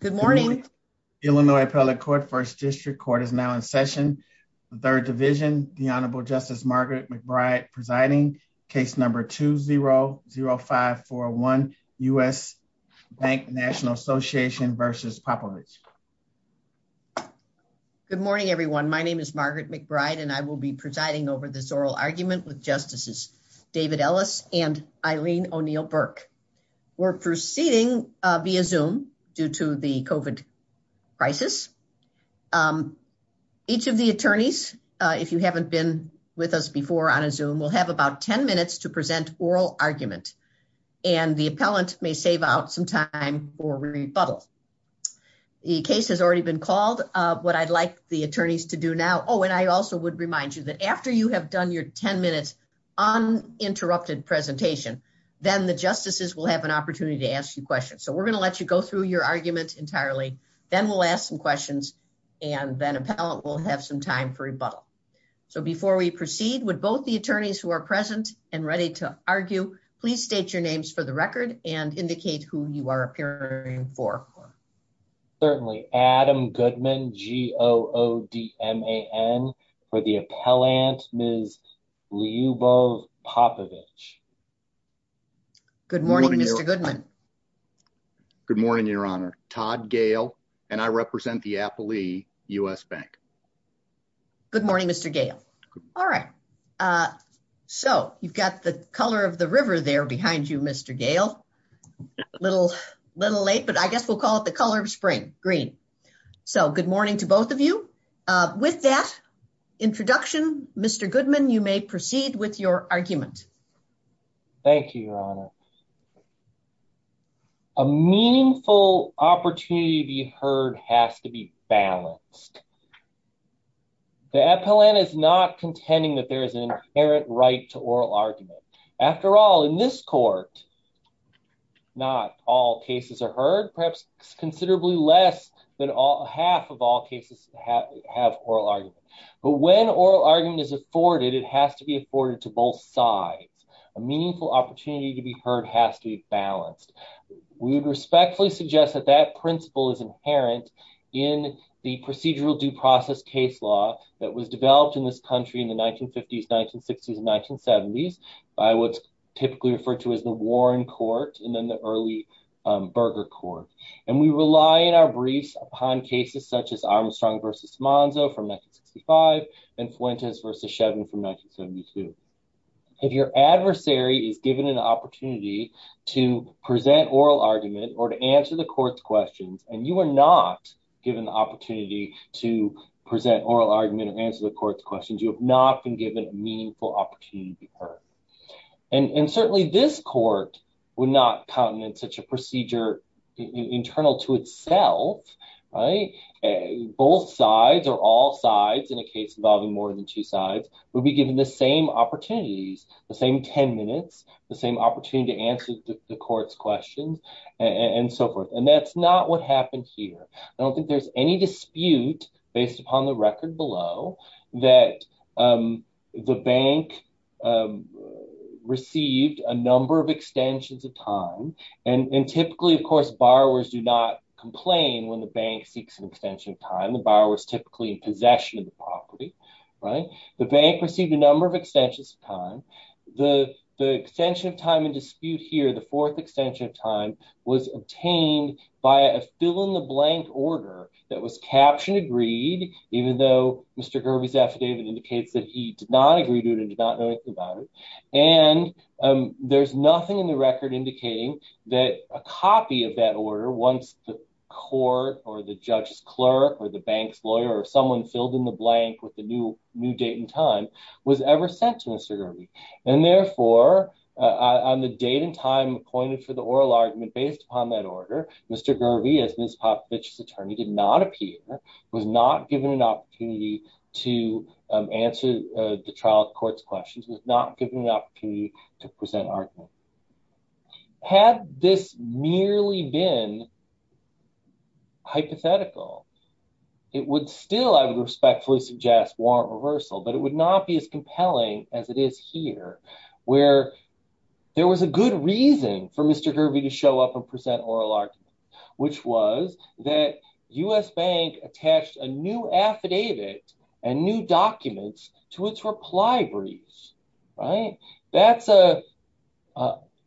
Good morning. Illinois Appellate Court, First District Court is now in session. The Third Division, the Honorable Justice Margaret McBride presiding, case number 2-0-0541, U.S. Bank National Association v. Popovich. Good morning, everyone. My name is Margaret McBride, and I will be presiding over this oral argument with Justices David Ellis and Eileen O'Neill Burke. We're proceeding via Zoom due to the COVID crisis. Each of the attorneys, if you haven't been with us before on a Zoom, will have about 10 minutes to present oral argument, and the appellant may save out some time for rebuttal. The case has already been called. What I'd like the attorneys to do now, oh, and I also would remind you that after you have done your 10-minute uninterrupted presentation, then the justices will have an opportunity to ask you questions. So we're going to let you go through your argument entirely, then we'll ask some questions, and then appellant will have some time for rebuttal. So before we proceed, would both the attorneys who are present and ready to argue please state your names for the record and indicate who you are appearing for. Certainly. Adam Goodman, G-O-O-D-M-A-N, for the appellant, Ms. Liubov Popovich. Good morning, Mr. Goodman. Good morning, Your Honor. Todd Gale, and I represent the Applee U.S. Bank. Good morning, Mr. Gale. All right. So you've got the color of the river there behind you, Mr. Gale. A little late, but I guess we'll call it the color of spring, green. So good morning to both of you. With that introduction, Mr. Goodman, you may proceed with your argument. Thank you, Your Honor. A meaningful opportunity to be heard has to be balanced. The appellant is not contending that there is an inherent right to oral argument. After all, in this court, not all cases are heard, perhaps considerably less than half of all cases have oral argument. But when oral argument is afforded, it has to be afforded to both sides. A meaningful opportunity to be heard has to be balanced. We would respectfully suggest that that principle is inherent in the procedural due process case law that was developed in this country in the 1950s, 1960s, and 1970s by what's typically referred to as the Warren Court and then the early Berger Court. And we rely in our briefs upon cases such as Armstrong v. Monzo from 1965 and Fuentes v. Shevin from 1972. If your adversary is given an opportunity to present oral argument or to answer the court's questions and you are not given the opportunity to present oral argument or answer the court's questions, you have not been given a meaningful opportunity to be heard. And certainly this court would not count in such a procedure internal to itself, right? Both sides or all sides in a case involving more than two sides would be given the same opportunities, the same 10 minutes, the same opportunity to answer the court's questions, and so forth. And that's not what happened here. I don't think there's any dispute based upon the record below that the bank received a number of extensions of time. And typically, of course, borrowers do not complain when the bank seeks an extension of time. The borrower is typically in possession of the property, right? The bank received a number of extensions of time. The extension of time in dispute here, the fourth extension of time, was obtained by a fill-in-the-blank order that was captioned agreed, even though Mr. Kirby's affidavit indicates that he did not agree to it and did not know anything about it. And there's nothing in the record indicating that a copy of that order, once the court or the judge's clerk or the bank's lawyer or someone filled in the blank with the new date and time, was ever sent to Mr. Kirby. And therefore, on the date and time appointed for the oral argument based upon that order, Mr. Kirby, as Ms. Popovich's attorney, did not appear, was not given an opportunity to answer the trial court's questions, was not given an opportunity to present argument. Had this merely been hypothetical, it would still, I would respectfully suggest, warrant reversal, but it would not be as compelling as it is here, where there was a good reason for Mr. Kirby to show up and present oral argument, which was that U.S. Bank attached a new affidavit and new documents to its reply briefs, right? That's a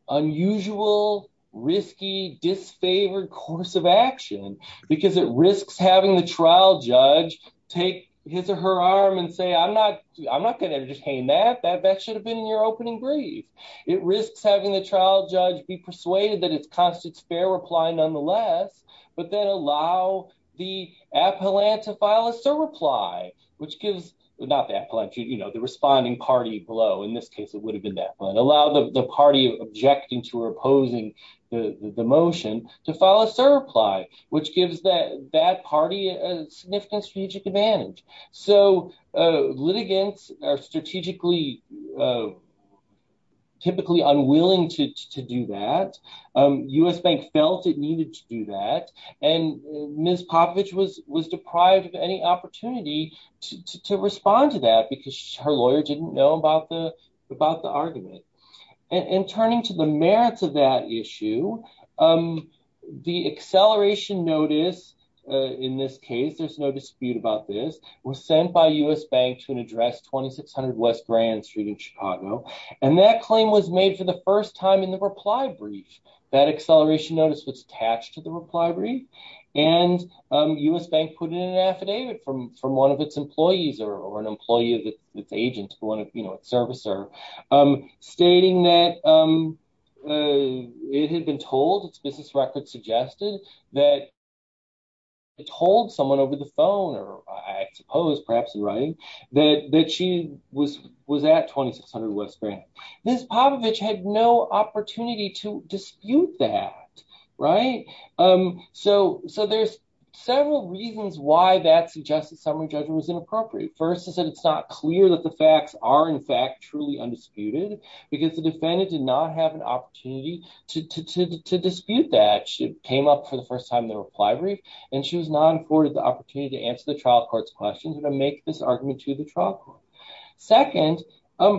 unusual, risky, disfavored course of action because it risks having the trial judge take his or her arm and say, I'm not, I'm not going to entertain that, that should have been in your opening brief. It risks having the trial judge be persuaded that it constitutes fair reply nonetheless, but then allow the appellant to file a surreply, which gives, not the appellant, you know, the responding party below. In this case, it would have been that one. Allow the party objecting to or opposing the motion to file a surreply, which gives that that party a significant strategic advantage. So, litigants are strategically, typically unwilling to do that. U.S. Bank felt it needed to do that, and Ms. Popovich was deprived of any opportunity to respond to that because her lawyer didn't know about the argument. And turning to the merits of that issue, the acceleration notice, in this case, there's no dispute about this, was sent by U.S. Bank to an address 2600 West Grand Street in Chicago, and that claim was made for the first time in the reply brief. That acceleration notice was attached to the reply brief, and U.S. Bank put in an affidavit from from one of its employees or an servicer, stating that it had been told, its business record suggested, that it told someone over the phone, or I suppose perhaps in writing, that she was was at 2600 West Grand. Ms. Popovich had no opportunity to dispute that, right? So, there's several reasons why that suggested summary judgment was inappropriate. First is that it's not clear that the facts are, in fact, truly undisputed, because the defendant did not have an opportunity to dispute that. She came up for the first time in the reply brief, and she was not afforded the opportunity to answer the trial court's questions and make this argument to the trial court. Second,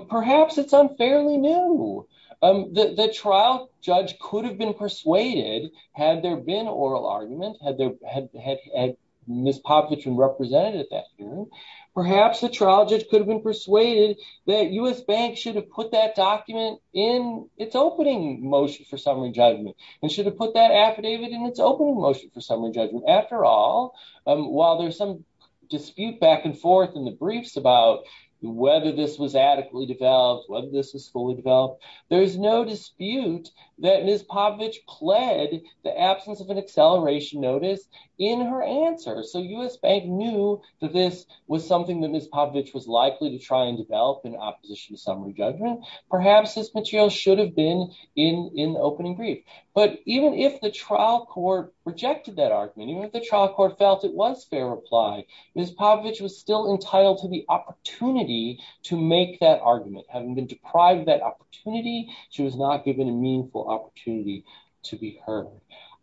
perhaps it's unfairly new. The trial judge could have been persuaded, had there been oral argument, had Ms. Popovich been represented at that hearing. Perhaps the trial judge could have been persuaded that U.S. Bank should have put that document in its opening motion for summary judgment and should have put that affidavit in its opening motion for summary judgment. After all, while there's some dispute back and forth in the briefs about whether this was adequately developed, whether this was fully developed, there is no dispute that Ms. Popovich pled the absence of an acceleration notice in her answer. So, U.S. Bank knew that this was something that Ms. Popovich was likely to try develop in opposition to summary judgment. Perhaps this material should have been in the opening brief. But even if the trial court rejected that argument, even if the trial court felt it was fair reply, Ms. Popovich was still entitled to the opportunity to make that argument. Having been deprived that opportunity, she was not given a meaningful opportunity to be heard.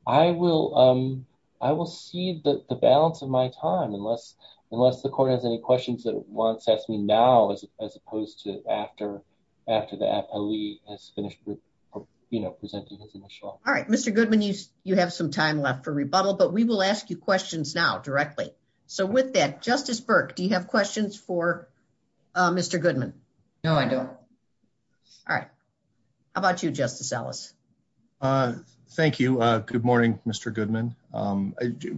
I will see the balance of my time, unless the court has any questions that it wants to ask me now, as opposed to after the appellee has finished presenting his initial. All right. Mr. Goodman, you have some time left for rebuttal, but we will ask you questions now directly. So, with that, Justice Burke, do you have questions for Mr. Goodman? No, I don't. All right. How about you, Justice Ellis? Thank you. Good morning, Mr. Goodman.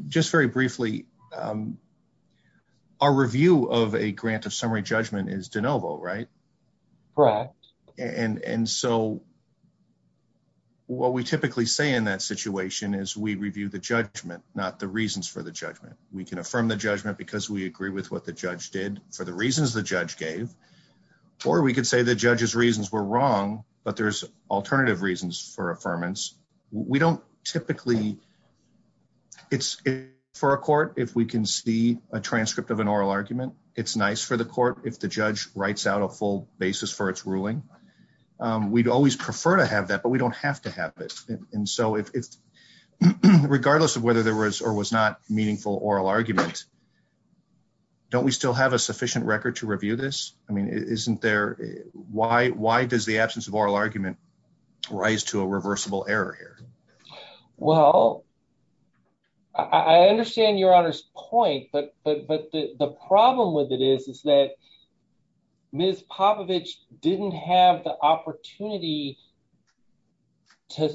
Just very briefly, our review of a grant of summary judgment is de novo, right? Correct. And so, what we typically say in that situation is we review the judgment, not the reasons for the judgment. We can affirm the judgment because we agree with what the judge did for the reasons the judge gave, or we could say the judge's reasons were wrong, but there's alternative reasons for affirmance. We don't typically... It's for a court if we can see a transcript of an oral argument. It's nice for the court if the judge writes out a full basis for its ruling. We'd always prefer to have that, but we don't have to have it. And so, regardless of whether there was or was not meaningful oral argument, don't we still have a sufficient record to review this? I mean, why does the absence of oral argument rise to a reversible error here? Well, I understand Your Honor's point, but the problem with it is that Ms. Popovich didn't have the opportunity to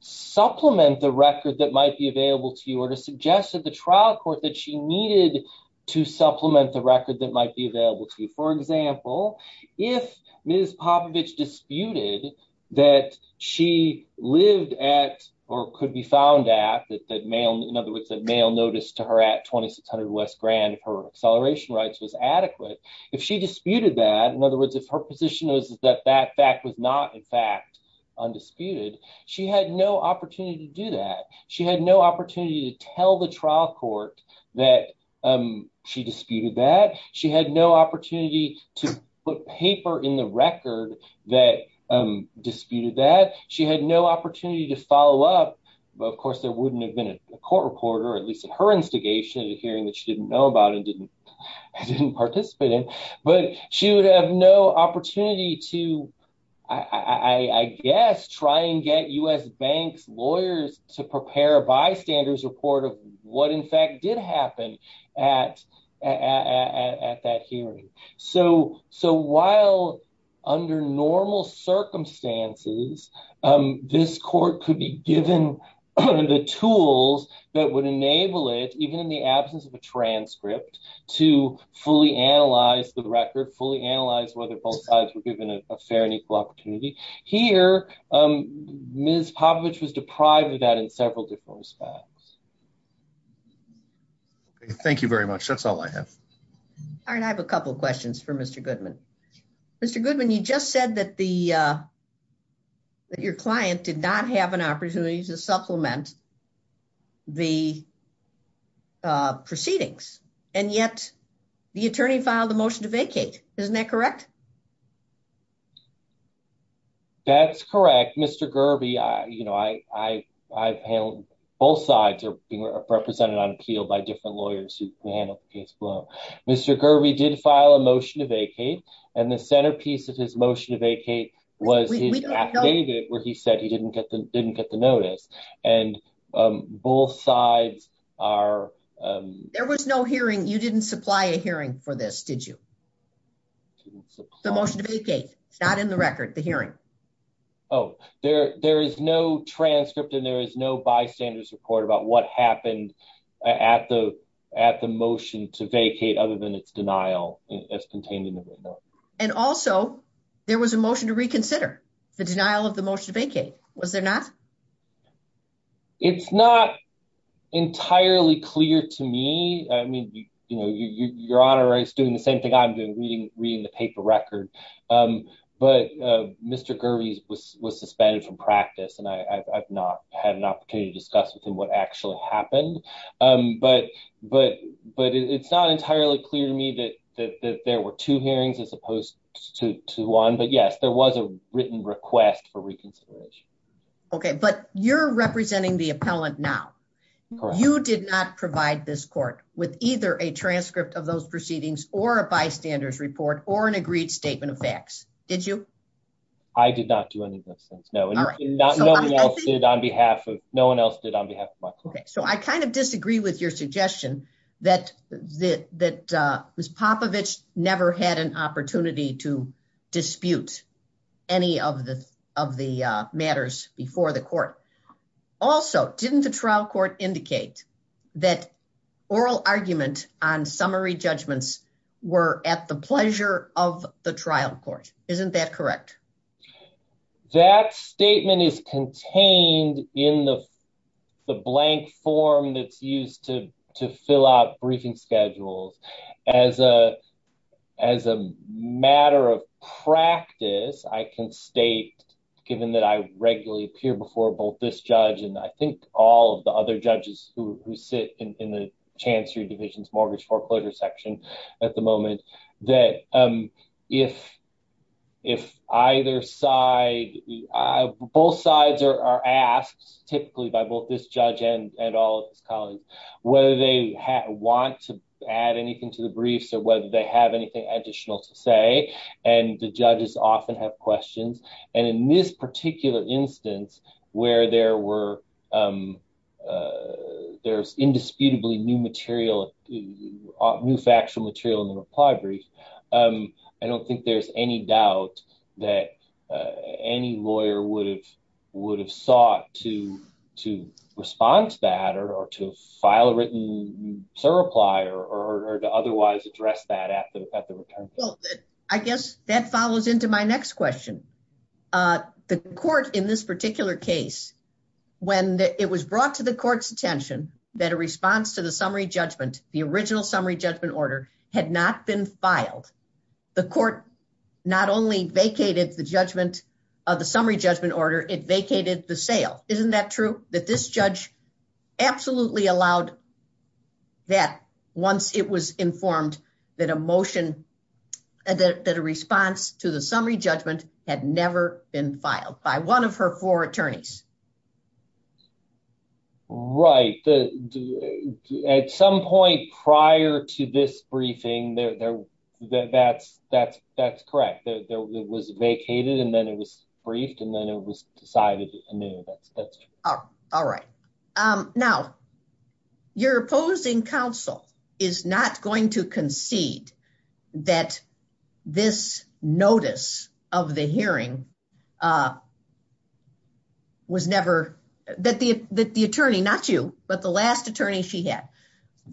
supplement the record that might be available to you or to suggest to the trial court that she needed to supplement the record that might be available to you. For example, if Ms. Popovich disputed that she lived at, or could be found at, that mail, in other words, that mail notice to her at 2600 West Grand, her acceleration rights was adequate, if she disputed that, in other words, if her position was that that fact was not, in fact, undisputed, she had no opportunity to do that. She had no opportunity to tell the trial court that she disputed that. She had no opportunity to put paper in the record that disputed that. She had no opportunity to follow up, but of course, there wouldn't have been a court reporter, at least at her instigation, at a hearing that she didn't know about and didn't participate in. But she would have no opportunity to, I guess, try and get U.S. banks' lawyers to prepare a bystander's report of what, in fact, did happen at that hearing. So while under normal circumstances, this court could be given the tools that would enable it, even in the absence of a transcript, to fully analyze the record, fully analyze whether both sides were that in several different respects. Thank you very much. That's all I have. All right. I have a couple of questions for Mr. Goodman. Mr. Goodman, you just said that the, that your client did not have an opportunity to supplement the proceedings, and yet the attorney filed a motion to vacate. Isn't that correct? That's correct. Mr. Gerby, I, you know, I've handled, both sides are being represented on appeal by different lawyers who handle the case below. Mr. Gerby did file a motion to vacate, and the centerpiece of his motion to vacate was his affidavit, where he said he didn't get the, didn't get the notice. And both sides are... There was no hearing, you didn't supply a hearing for this, did you? The motion to vacate, not in the record, the hearing. Oh, there, there is no transcript, and there is no bystander's report about what happened at the, at the motion to vacate, other than its denial as contained in the written note. And also, there was a motion to reconsider the denial of the motion to vacate, was there not? It's not entirely clear to me. I mean, you know, your Honor is doing the same thing I'm doing, reading the paper record. But Mr. Gerby was suspended from practice, and I've not had an opportunity to discuss with him what actually happened. But it's not entirely clear to me that there were two hearings as opposed to one, but yes, there was a written request for reconsideration. Okay, but you're either a transcript of those proceedings, or a bystander's report, or an agreed statement of facts, did you? I did not do any of those things, no. No one else did on behalf of my client. Okay, so I kind of disagree with your suggestion that Ms. Popovich never had an opportunity to dispute any of the matters before the court. Also, didn't the trial court indicate that oral argument on summary judgments were at the pleasure of the trial court, isn't that correct? That statement is contained in the blank form that's used to fill out briefing schedules. As a matter of practice, I can state, given that I regularly appear before both this and the judges who sit in the Chancery Division's mortgage foreclosure section at the moment, that if either side, both sides are asked, typically by both this judge and all of his colleagues, whether they want to add anything to the briefs, or whether they have anything additional to say, and the judges often have questions. And in this particular instance, where there's indisputably new material, new factual material in the reply brief, I don't think there's any doubt that any lawyer would have sought to respond to that, or to file a written reply, or to otherwise address that at the return. Well, I guess that follows into my next question. The court in this particular case, when it was brought to the court's attention that a response to the summary judgment, the original summary judgment order, had not been filed, the court not only vacated the summary judgment order, it vacated the sale. Isn't that true? That this judge absolutely allowed that once it was informed that a motion, that a response to the summary judgment had never been filed by one of her four attorneys. Right. At some point prior to this briefing, that's correct. It was vacated, and then it was briefed, and then it was decided anew. That's true. All right. Now, your opposing counsel is not going to concede that this notice of the hearing was never, that the attorney, not you, but the last attorney she had,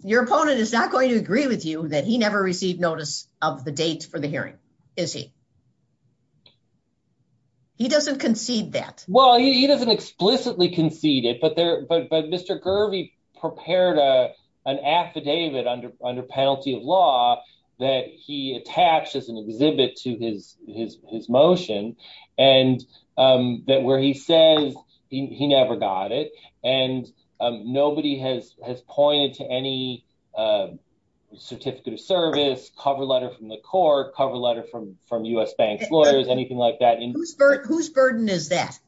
your opponent is not going to agree with you that he never received notice of the date for the hearing, is he? He doesn't concede that. Well, he doesn't explicitly concede it, but Mr. Gervey prepared an affidavit under penalty of law that he attached as an exhibit to his motion, where he says he never got it, and nobody has pointed to any certificate of service, cover letter from the court, cover letter from U.S. Bank lawyers, anything like that. Whose burden is that?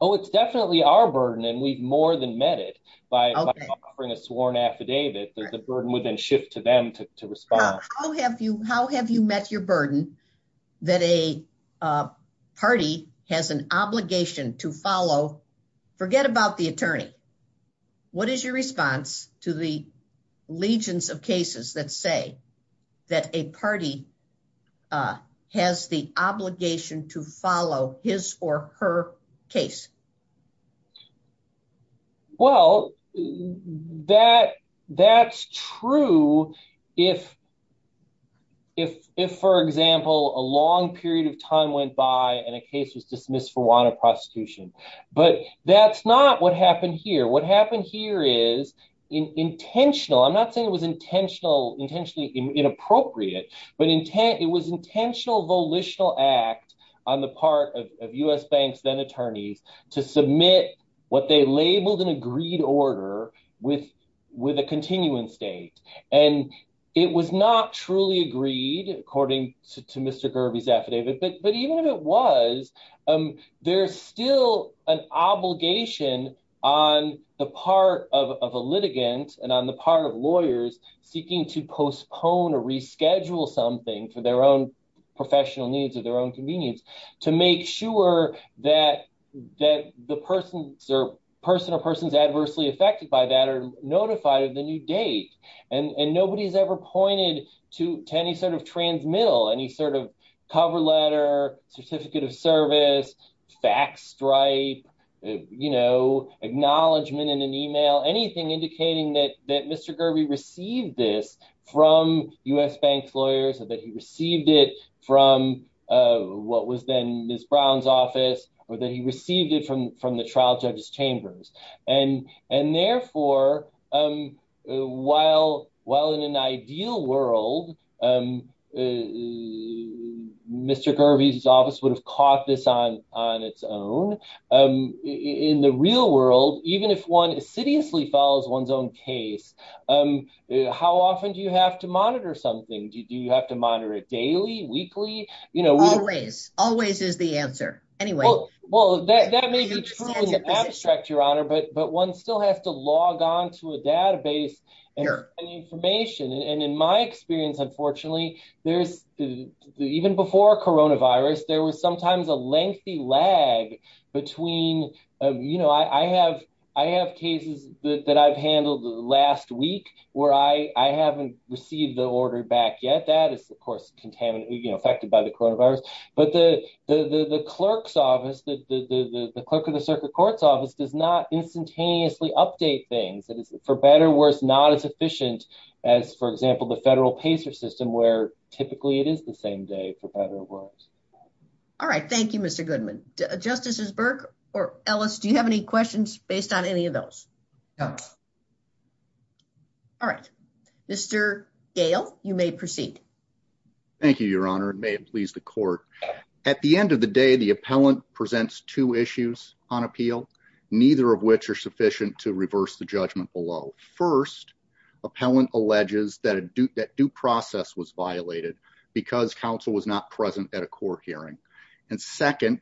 Oh, it's definitely our burden, and we've more than met it by offering a sworn affidavit. The burden would then shift to them to respond. How have you met your burden that a party has an obligation to follow? Forget about the attorney. What is your obligation to follow his or her case? Well, that's true if, for example, a long period of time went by and a case was dismissed for want of prosecution, but that's not what happened here. What happened here is intentional. I'm not saying it was intentionally inappropriate, but it was intentional volitional act on the part of U.S. Bank's then attorneys to submit what they labeled an agreed order with a continuance date, and it was not truly agreed according to Mr. Gervey's affidavit, but even if it was, there's still an obligation on the part of a litigant and on the part of lawyers seeking to postpone or reschedule something for their own professional needs or their own convenience to make sure that the person or persons adversely affected by that are notified of the new date, and nobody's ever pointed to any sort of transmittal, any sort of cover letter, certificate of service, fax stripe, acknowledgement in an email, anything indicating that Mr. Gervey received this from U.S. Bank's lawyers or that he received it from what was then Ms. Brown's office or that he received it from the trial judge's chambers, and therefore, while in an ideal world, Mr. Gervey's office would have caught this on its own, in the real world, even if one assiduously follows one's own case, how often do you have to monitor something? Do you have to monitor it daily, weekly? Always. Always is the answer. Anyway. Well, that may be truly abstract, Your Honor, but one still has to log on to a database and find information, and in my experience, unfortunately, even before coronavirus, there was sometimes a lengthy lag between, you know, I have cases that I've handled last week where I haven't received the order back yet. That is, of course, contaminated, you know, the clerk of the circuit court's office does not instantaneously update things. That is, for better or worse, not as efficient as, for example, the federal pacer system where typically it is the same day, for better or worse. All right. Thank you, Mr. Goodman. Justices Burke or Ellis, do you have any questions based on any of those? No. All right. Mr. Gale, you may proceed. Thank you, Your Honor. It may please the court. At the end of the day, the appellant presents two issues on appeal, neither of which are sufficient to reverse the judgment below. First, appellant alleges that due process was violated because counsel was not present at a court hearing, and second,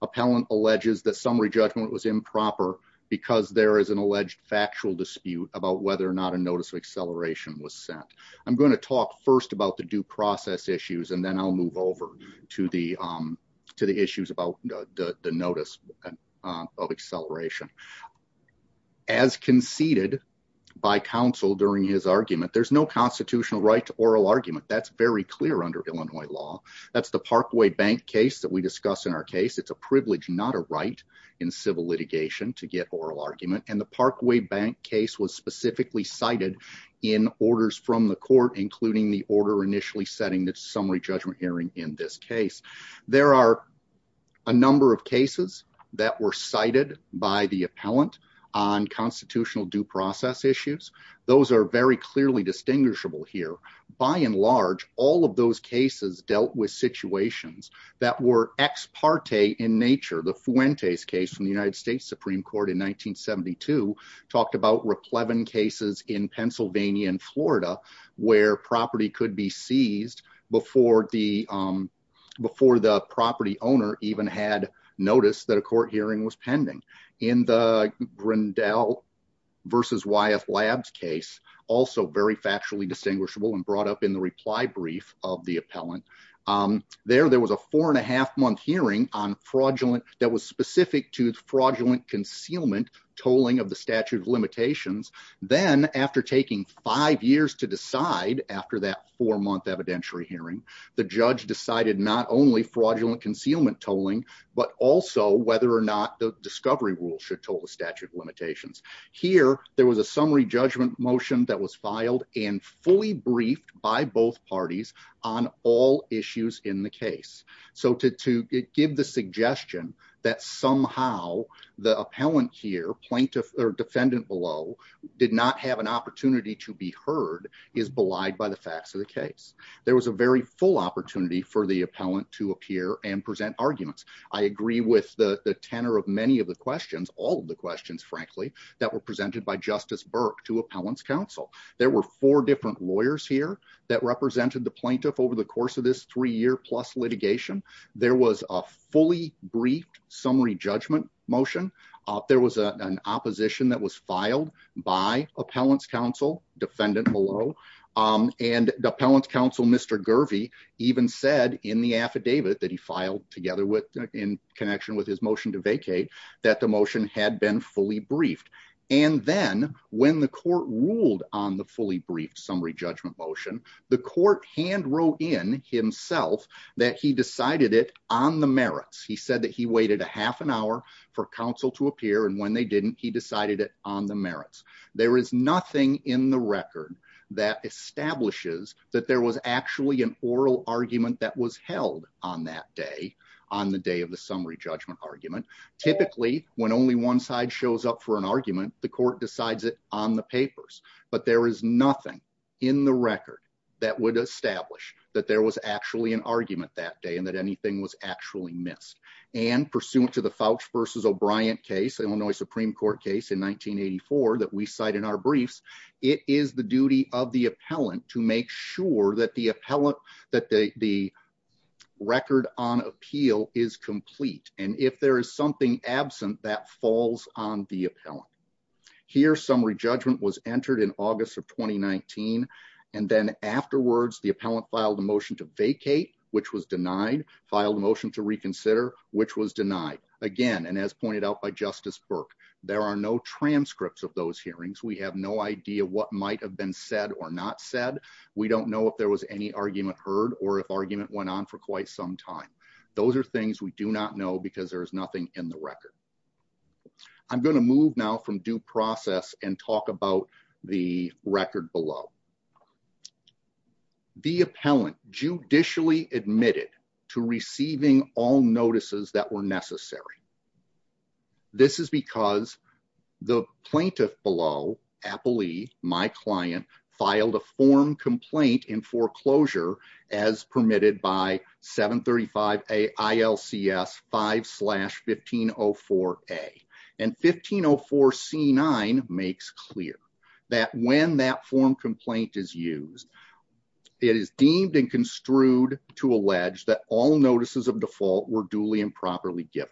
appellant alleges that summary judgment was improper because there is an alleged factual dispute about whether or not a notice of acceleration was sent. I'm going to talk first about the due process issues, and then I'll move over to the issues about the notice of acceleration. As conceded by counsel during his argument, there's no constitutional right to oral argument. That's very clear under Illinois law. That's the Parkway Bank case that we discuss in our case. It's a privilege, not a right, in civil litigation to get oral argument, and the Parkway Bank case was specifically cited in orders from the court, including the order initially setting the summary judgment hearing in this case. There are a number of cases that were cited by the appellant on constitutional due process issues. Those are very clearly distinguishable here. By and large, all of those cases dealt with situations that were ex parte in nature. The Fuentes case from the United States is one of the most prevalent cases in Pennsylvania and Florida where property could be seized before the property owner even had notice that a court hearing was pending. In the Grindell v. Wyeth Labs case, also very factually distinguishable and brought up in the reply brief of the appellant, there was a four and a half month hearing that was specific to then after taking five years to decide after that four month evidentiary hearing, the judge decided not only fraudulent concealment tolling, but also whether or not the discovery rule should toll the statute of limitations. Here, there was a summary judgment motion that was filed and fully briefed by both parties on all issues in the case. To give the suggestion that somehow the appellant here, plaintiff or defendant below, did not have an opportunity to be heard is belied by the facts of the case. There was a very full opportunity for the appellant to appear and present arguments. I agree with the tenor of many of the questions, all of the questions frankly, that were presented by Justice Burke to appellant's counsel. There were four different lawyers here that represented the plaintiff over the course of this three year plus litigation. There was a fully briefed summary judgment motion. There was an opposition that was filed by appellant's counsel, defendant below, and the appellant's counsel, Mr. Gervey, even said in the affidavit that he filed together with in connection with his motion to vacate, that the motion had been fully briefed. And then when the court ruled on the fully briefed summary judgment motion, the court hand wrote in himself that he decided it on the merits. He said that he waited a half an hour for counsel to appear and when they didn't, he decided it on the merits. There is nothing in the record that establishes that there was actually an oral argument that was held on that day, on the day of the summary judgment argument. Typically when only one side shows up for an argument, the court decides it on the papers. But there is nothing in the record that would establish that there was actually an argument that day and that anything was actually missed. And pursuant to the Fouch versus O'Brien case, Illinois Supreme Court case in 1984 that we cite in our briefs, it is the duty of the appellant to make sure that the appellant, that the record on appeal is complete. And if there is something absent, that falls on the appellant. Here, summary judgment was entered in August of 2019 and then afterwards the appellant filed a motion to vacate, which was denied. Filed a motion to reconsider, which was denied. Again, and as pointed out by Justice Burke, there are no transcripts of those hearings. We have no idea what might have been said or not said. We don't know if there was any argument heard or if argument went on for quite some time. Those are things we do not know because there is nothing in the record. I'm going to move now from due process and talk about the record below. The appellant judicially admitted to receiving all notices that were necessary. This is because the plaintiff below, Applee, my client, filed a form complaint in foreclosure as permitted by 735 A ILCS 5 slash 1504 A. And 1504 C9 makes clear that when that form complaint is used, it is deemed and construed to allege that all notices of default were duly and properly given.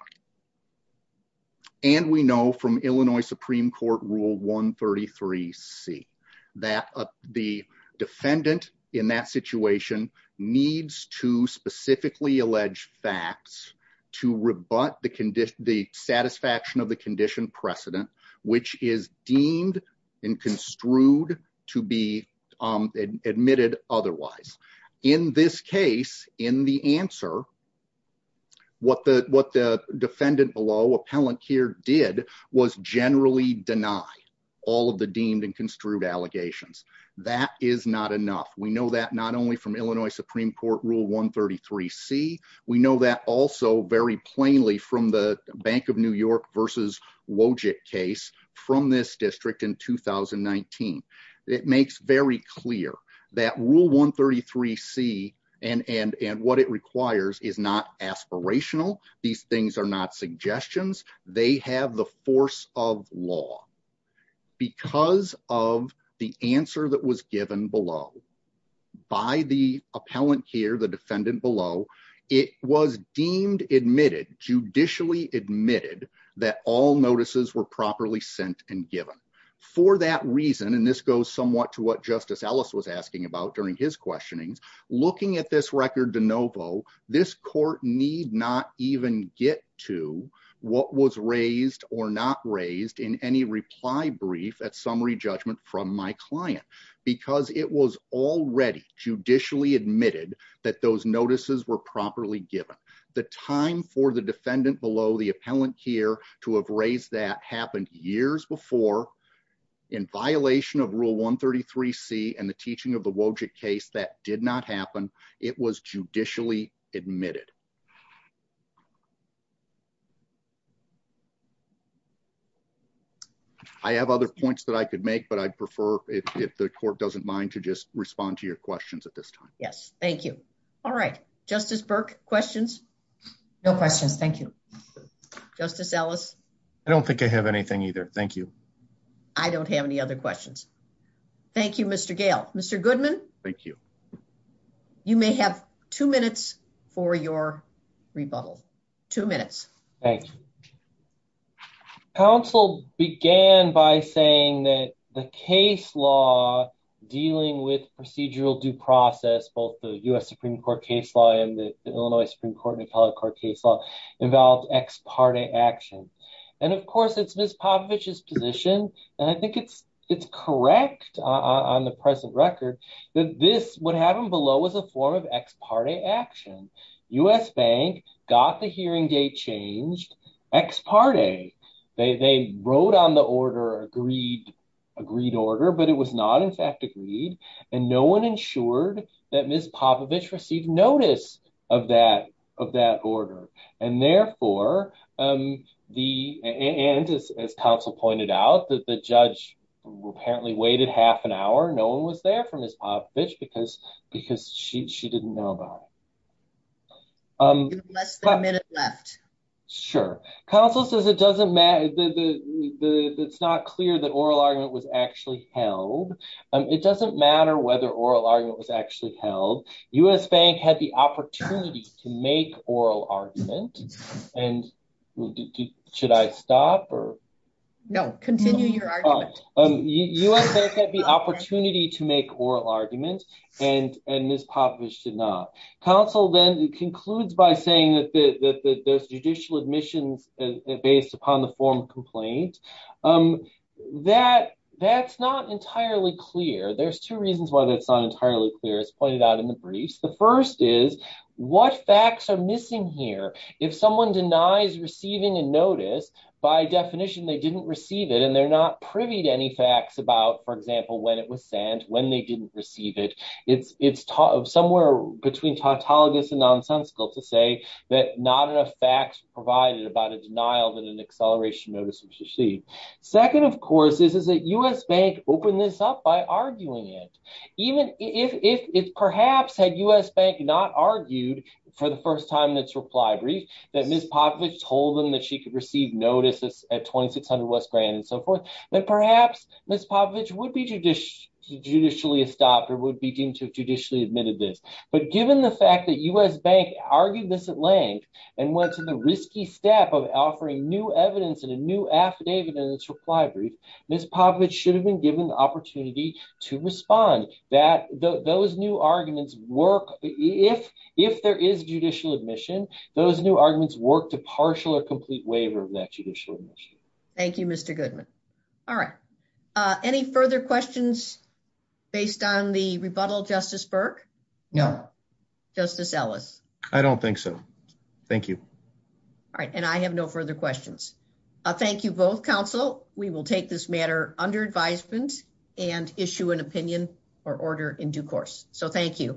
And we know from Illinois Supreme Court rule 133 C that the defendant in that situation needs to specifically allege facts to rebut the condition, the satisfaction of the condition precedent, which is deemed and construed to be admitted otherwise. In this case, in the answer, what the defendant below, Appellant Keir, did was generally deny all of the deemed and construed allegations. That is not enough. We know that not only from Illinois Supreme Court rule 133 C, we know that also very plainly from the Bank of New York versus Wojcik case from this district in 2019. It makes very clear that rule 133 C and what it requires is not aspirational. These things are not suggestions. They have the force of law. Because of the answer that was given below by the Appellant Keir, the defendant below, it was deemed admitted, judicially admitted, that all notices were properly sent and given. For that reason, and this goes somewhat to what Justice Ellis was asking about during his questionings, looking at this record de novo, this court need not even get to what was raised or not raised in any reply brief at summary judgment from my client. Because it was already judicially admitted that those notices were properly given. The time for the defendant below, the Appellant Keir, to have raised that happened years before, in violation of rule 133 C and the teaching of the Wojcik case, that did not happen. It was judicially admitted. I have other points that I could make, but I prefer, if the court doesn't mind, to just respond to your questions at this time. Yes. Thank you. All right. Justice Burke, questions? No questions. Thank you. Justice Ellis? I don't think I have anything either. Thank you. I don't have any other questions. Thank you, Mr. Gale. Mr. Goodman? Thank you. You may have two minutes for your rebuttal. Two minutes. Thank you. Counsel began by saying that the case law dealing with procedural due process, both the U.S. Supreme Court case law and the Illinois Supreme Court and Appellate Court case law, involved ex parte action. Of course, it's Ms. Popovich's position, and I think it's correct on the present record, that this, what happened below, was a form of ex parte action. U.S. Bank got the hearing date ex parte. They wrote on the order, agreed order, but it was not, in fact, agreed, and no one ensured that Ms. Popovich received notice of that order. Therefore, and as counsel pointed out, that the judge apparently waited half an hour. No one was there for Ms. Popovich because she didn't know about it. Less than a minute left. Sure. Counsel says it doesn't matter, it's not clear that oral argument was actually held. It doesn't matter whether oral argument was actually held. U.S. Bank had the opportunity to make oral argument, and should I stop or? No, continue your argument. U.S. Bank had the opportunity to make oral argument, and Ms. Popovich did not. Counsel then concludes by saying that there's judicial admissions based upon the form of complaint. That's not entirely clear. There's two reasons why that's not entirely clear, as pointed out in the briefs. The first is, what facts are missing here? If someone denies receiving a notice, by definition they didn't receive it, and they're not privy to facts about, for example, when it was sent, when they didn't receive it. It's somewhere between tautologous and nonsensical to say that not enough facts provided about a denial that an acceleration notice was received. Second, of course, is that U.S. Bank opened this up by arguing it. Even if perhaps had U.S. Bank not argued for the first time in its reply brief, that Ms. Popovich told them that she could receive notices at 2600 West Grand and so forth, then perhaps Ms. Popovich would be judicially stopped or would be deemed to have judicially admitted this. But given the fact that U.S. Bank argued this at length and went to the risky step of offering new evidence and a new affidavit in its reply brief, Ms. Popovich should have been given the opportunity to respond. Those new arguments work. If there is judicial admission, those new arguments work to partial or complete waiver of that judicial admission. Thank you, Mr. Goodman. All right. Any further questions based on the rebuttal, Justice Burke? No. Justice Ellis? I don't think so. Thank you. All right. And I have no further questions. Thank you both, counsel. We will take this matter under advisement and issue an opinion or order in due course. So, thank you.